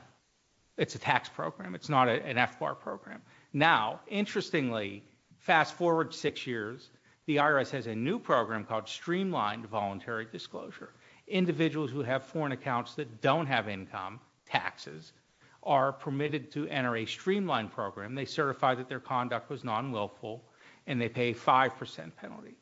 it's a tax program. It's not an FBAR program. Now, interestingly, fast forward six years, the IRS has a new program called Streamlined Voluntary Disclosure. Individuals who have foreign accounts that don't have income, taxes, are permitted to enter a streamlined program. They certify that their conduct was non-willful and they pay a 5% penalty.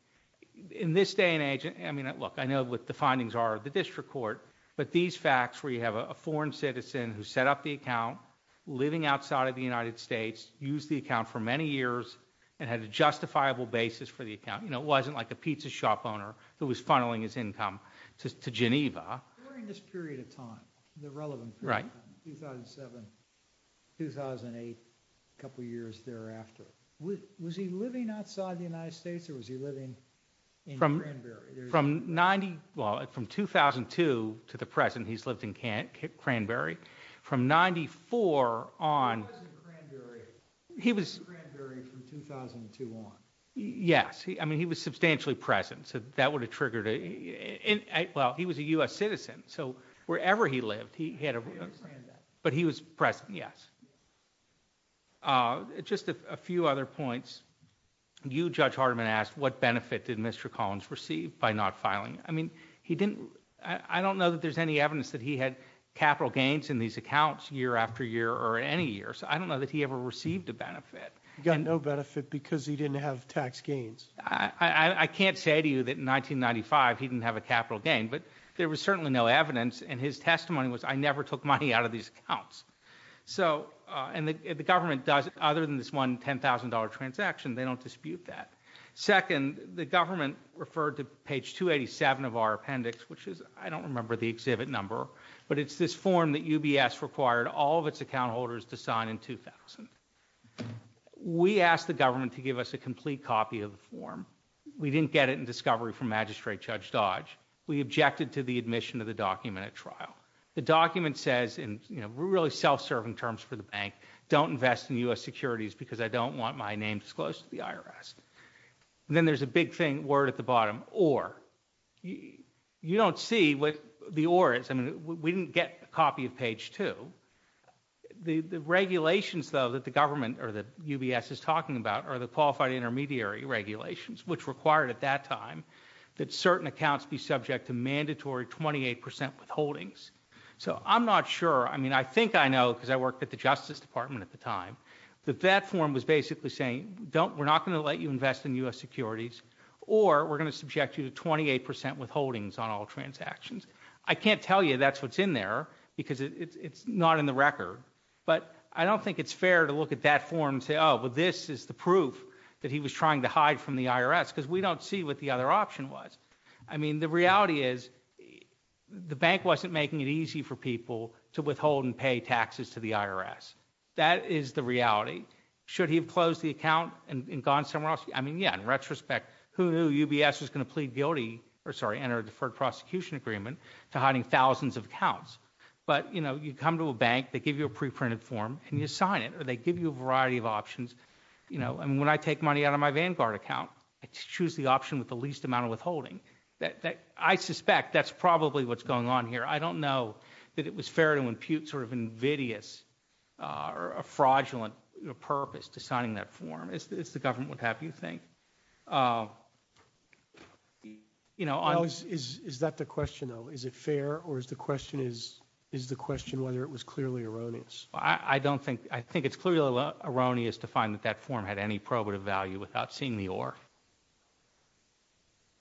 In this day and age, I mean, look, what the findings are of the district court, but these facts where you have a foreign citizen who set up the account, living outside of the United States, used the account for many years, and had a justifiable basis for the account, it wasn't like a pizza shop owner who was funneling his income to Geneva. During this period of time, the relevant period, 2007, 2008, a couple years thereafter, was he living outside the United States or was he living in Cranberry? From 90, well, from 2002 to the present, he's lived in Cranberry. From 94 on- He was in Cranberry. He was- Cranberry from 2002 on. Yes, I mean, he was substantially present, so that would have triggered a, well, he was a U.S. citizen, so wherever he lived, he had a- I understand that. But he was present, yes. Just a few other points. You, Judge Hardiman, asked what benefit did Mr. Collins receive by not filing? I mean, he didn't- I don't know that there's any evidence that he had capital gains in these accounts year after year or any year, so I don't know that he ever received a benefit. He got no benefit because he didn't have tax gains. I can't say to you that in 1995, he didn't have a capital gain, but there was certainly no evidence, and his testimony was, I never took money out of these accounts. So, and the government does, other than this one $10,000 transaction, they don't dispute that. Second, the government referred to page 287 of our appendix, which is, I don't remember the exhibit number, but it's this form that UBS required all of its account holders to sign in 2000. We asked the government to give us a complete copy of the form. We didn't get it in discovery from Magistrate Judge Dodge. We objected to the admission of the document at trial. The document says, in really self-serving terms for the bank, don't invest in U.S. securities because I don't want my name disclosed to the IRS. And then there's a big thing, word at the bottom, or, you don't see what the or is. I mean, we didn't get a copy of page two. The regulations, though, that the government, or that UBS is talking about, are the qualified intermediary regulations, which required at that time that certain accounts be subject to mandatory 28% withholdings. So, I'm not sure. I mean, I think I know, because I worked at the Justice Department at the time, that that form was basically saying, don't, we're not going to let you invest in U.S. securities, or we're going to subject you to 28% withholdings on all transactions. I can't tell you that's what's in there, because it's not in the record. But I don't think it's fair to look at that form and say, oh, well, this is the proof that he was trying to hide from the IRS, because we don't see what the other option was. I mean, the reality is, the bank wasn't making it easy for people to withhold and pay taxes to the IRS. That is the reality. Should he have closed the account and gone somewhere else? I mean, yeah, in retrospect, who knew UBS was going to plead guilty, or sorry, enter a deferred prosecution agreement to hiding thousands of accounts. But, you know, you come to a bank, they give you a pre-printed form and you sign it, or they give you a variety of options. You know, and when I take money out of my Vanguard account, I choose the option with the least amount of withholding. I suspect that's probably what's going on here. I don't know that it was fair to impute sort of invidious or a fraudulent purpose to signing that form, as the government would have you think. You know, is that the question, though? Is it fair or is the question is is the question whether it was clearly erroneous? I don't think I think it's clearly erroneous to find that that form had any probative value without seeing the or.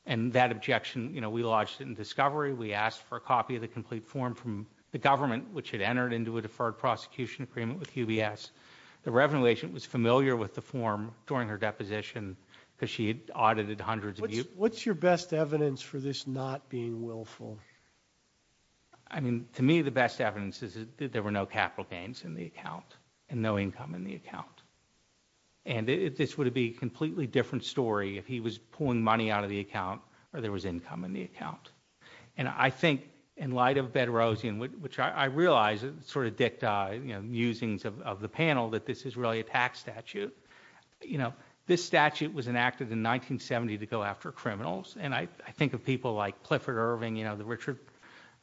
And that objection, you know, we lodged in discovery, we asked for a copy of the complete form from the government, which had entered into a deferred prosecution agreement with UBS. The revenue agent was familiar with the form during her deposition because she had audited hundreds of you. What's your best evidence for this not being willful? I mean, to me, the best evidence is that there were no capital gains in the account and no income in the account. And this would be completely different story if he was pulling money out of the account or there was income in the account. And I think in light of Bedrosian, which I realize it sort of dict musings of the panel, that this is really a tax statute. You know, this statute was enacted in 1970 to go after criminals. And I think of people like Clifford Irving, you know, the Richard,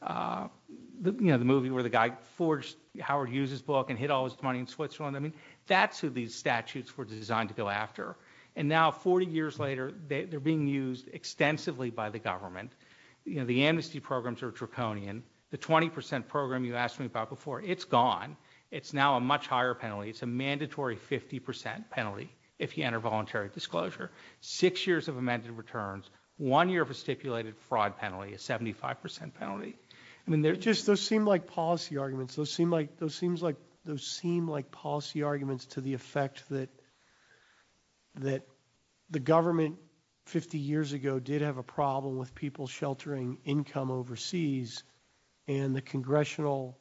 you know, the movie where the guy forged Howard Hughes's book and hid all his money in Switzerland. I mean, that's who these statutes were designed to go after. And now, 40 years later, they're being used extensively by the government. You know, the amnesty programs are draconian. The 20 percent program you asked me about before, it's gone. It's now a much higher penalty. It's a mandatory 50 percent penalty if you enter voluntary disclosure. Six years of amended returns, one year of a stipulated fraud penalty, a 75 percent penalty. I mean, they're just those seem like policy arguments. Those seem like those seems like those seem like policy arguments to the effect that. That the government 50 years ago did have a problem with people sheltering income overseas and the congressional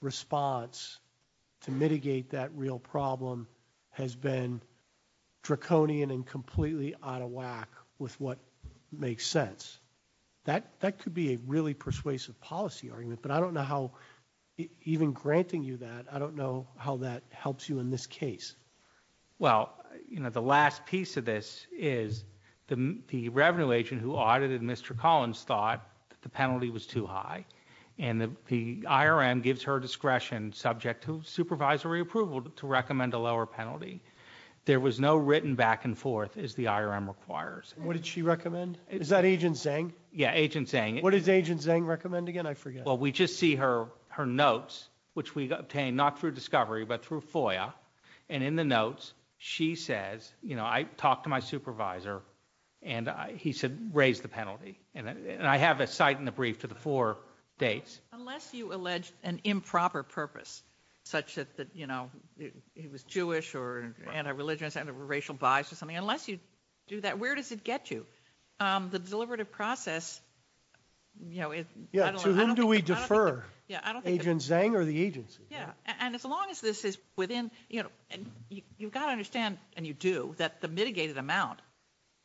response to mitigate that real problem has been draconian and completely out of whack with what makes sense. That could be a really persuasive policy argument, but I don't know how even granting you that, I don't know how that helps you in this case. Well, you know, the last piece of this is the revenue agent who audited Mr. Collins thought that the penalty was too high and the IRM gives her discretion subject to supervisory approval to recommend a lower penalty. There was no written back and forth as the IRM requires. What did she recommend? Is that Agent Zhang? Yeah, Agent Zhang. What does Agent Zhang recommend again? I forget. Well, we just see her notes, which we obtained not through discovery, but through FOIA. And in the notes, she says, you know, I talked to my supervisor and he said raise the penalty. And I have a cite in the brief to the four dates. Unless you allege an improper purpose, such that, you know, he was Jewish or anti-religious, anti-racial bias or something, unless you do that, where does it get you? The deliberative process, you know, I don't know. To whom do we defer? Agent Zhang or the agency? Yeah, and as long as this is within, you know, you've got to understand, and you do, that the mitigated amount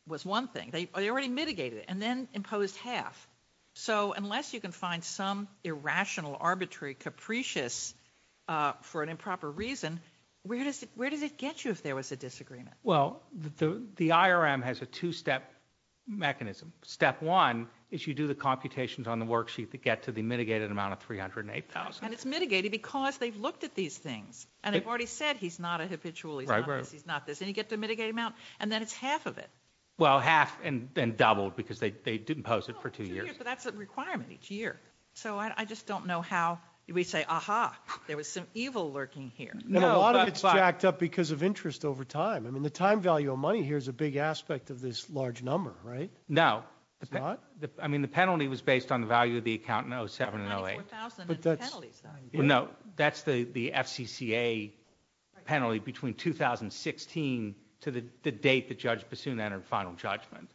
was one thing. They already mitigated it and then imposed half. So unless you can find some irrational, arbitrary, capricious, for an improper reason, where does it get you if there was a disagreement? Well, the IRM has a two-step mechanism. Step one is you do the computations on the worksheet that get to the mitigated amount of $308,000. And it's mitigated because they've looked at these things and they've already said he's not a habitual, he's not this, he's not this. And you get the mitigated amount and then it's half of it. Well, half and then doubled because they didn't post it for two years. But that's a requirement each year. So I just don't know how we say, aha, there was some evil lurking here. And a lot of it's jacked up because of interest over time. I mean, the time value of money here is a big aspect of this large number, right? No, I mean, the penalty was based on the value of the account in 07 and 08. No, that's the FCCA penalty between 2016 to the date that Judge Bassoon entered final judgment.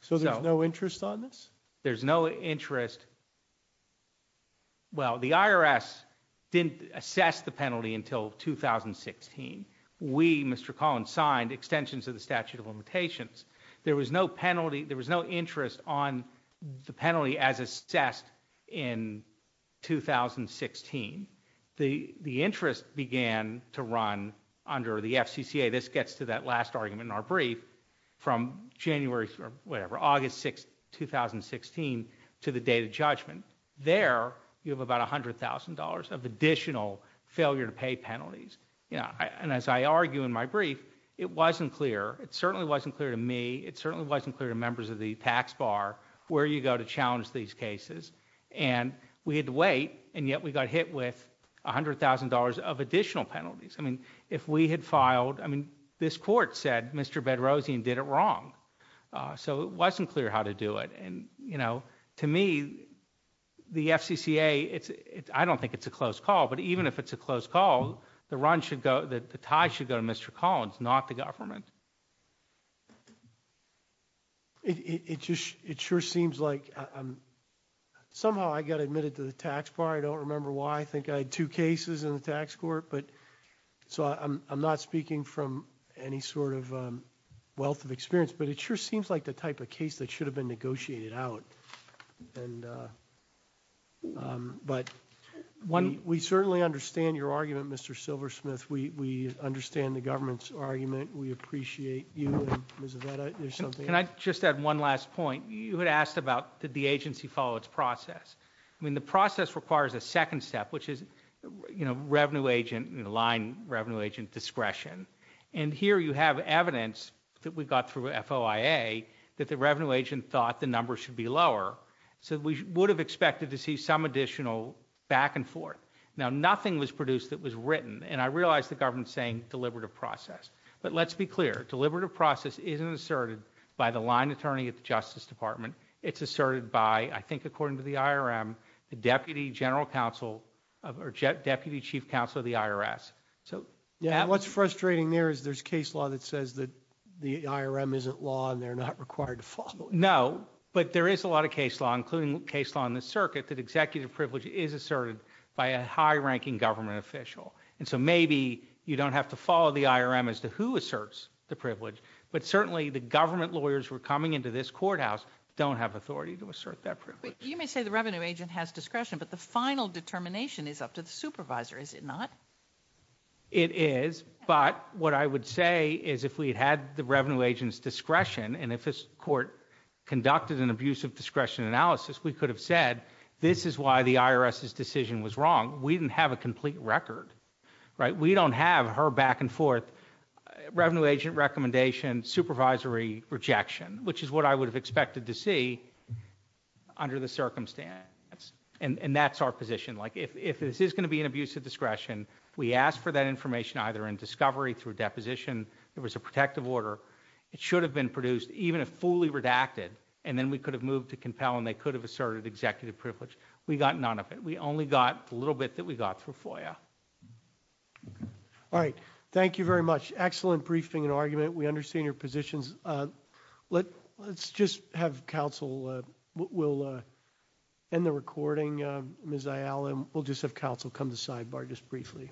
So there's no interest on this? There's no interest. Well, the IRS didn't assess the penalty until 2016. We, Mr. Collins, signed extensions of the statute of limitations. There was no penalty. There was no interest on the penalty as assessed in 2016. This gets to that last argument in our brief from January, whatever, August 6, 2016 to the date of judgment. There, you have about $100,000 of additional failure to pay penalties. Yeah, and as I argue in my brief, it wasn't clear. It certainly wasn't clear to me. It certainly wasn't clear to members of the tax bar where you go to challenge these cases. And we had to wait. And yet we got hit with $100,000 of additional penalties. I mean, if we had filed, I mean, this court said, Mr. Bedrosian did it wrong. So it wasn't clear how to do it. And, you know, to me, the FCCA, I don't think it's a closed call, but even if it's a closed call, the run should go, the tie should go to Mr. Collins, not the government. It just, it sure seems like somehow I got admitted to the tax bar. I don't remember why. I think I had two cases in the tax court, but so I'm not speaking from any sort of wealth of experience, but it sure seems like the type of case that should have been negotiated out. And, but one, we certainly understand your argument, Mr. Silversmith. We understand the government's argument. We appreciate you. Can I just add one last point? You had asked about, did the agency follow its process? I mean, the process requires a second step, which is, you know, revenue agent, line revenue agent discretion. And here you have evidence that we've got through FOIA that the revenue agent thought the numbers should be lower. So we would have expected to see some additional back and forth. Now, nothing was produced that was written. And I realized the government saying deliberative process, but let's be clear. Deliberative process isn't asserted by the line attorney at the justice department. It's asserted by, I think, according to the IRM, the deputy general counsel or deputy chief counsel of the IRS. So what's frustrating there is there's case law that says that the IRM isn't law and they're not required to follow. No, but there is a lot of case law, including case law in the circuit that executive privilege is asserted by a high ranking government official. And so maybe you don't have to follow the IRM as to who asserts the privilege, but certainly the government lawyers who are coming into this courthouse don't have authority to assert that privilege. You may say the revenue agent has discretion, but the final determination is up to the supervisor, is it not? It is, but what I would say is if we had the revenue agent's discretion and if this court conducted an abusive discretion analysis, we could have said, this is why the IRS's decision was wrong. We didn't have a complete record, right? We don't have her back and forth revenue agent recommendation, supervisory rejection, which is what I would have expected to see under the circumstance. And that's our position. If this is going to be an abusive discretion, we ask for that information either in discovery through deposition, there was a protective order, it should have been produced even if fully redacted and then we could have moved to compel and they could have asserted executive privilege. We got none of it. We only got a little bit that we got through FOIA. All right. Thank you very much. Excellent briefing and argument. We understand your positions. Let's just have counsel, we'll end the recording. Ms. Ayala, we'll just have counsel come to sidebar just briefly.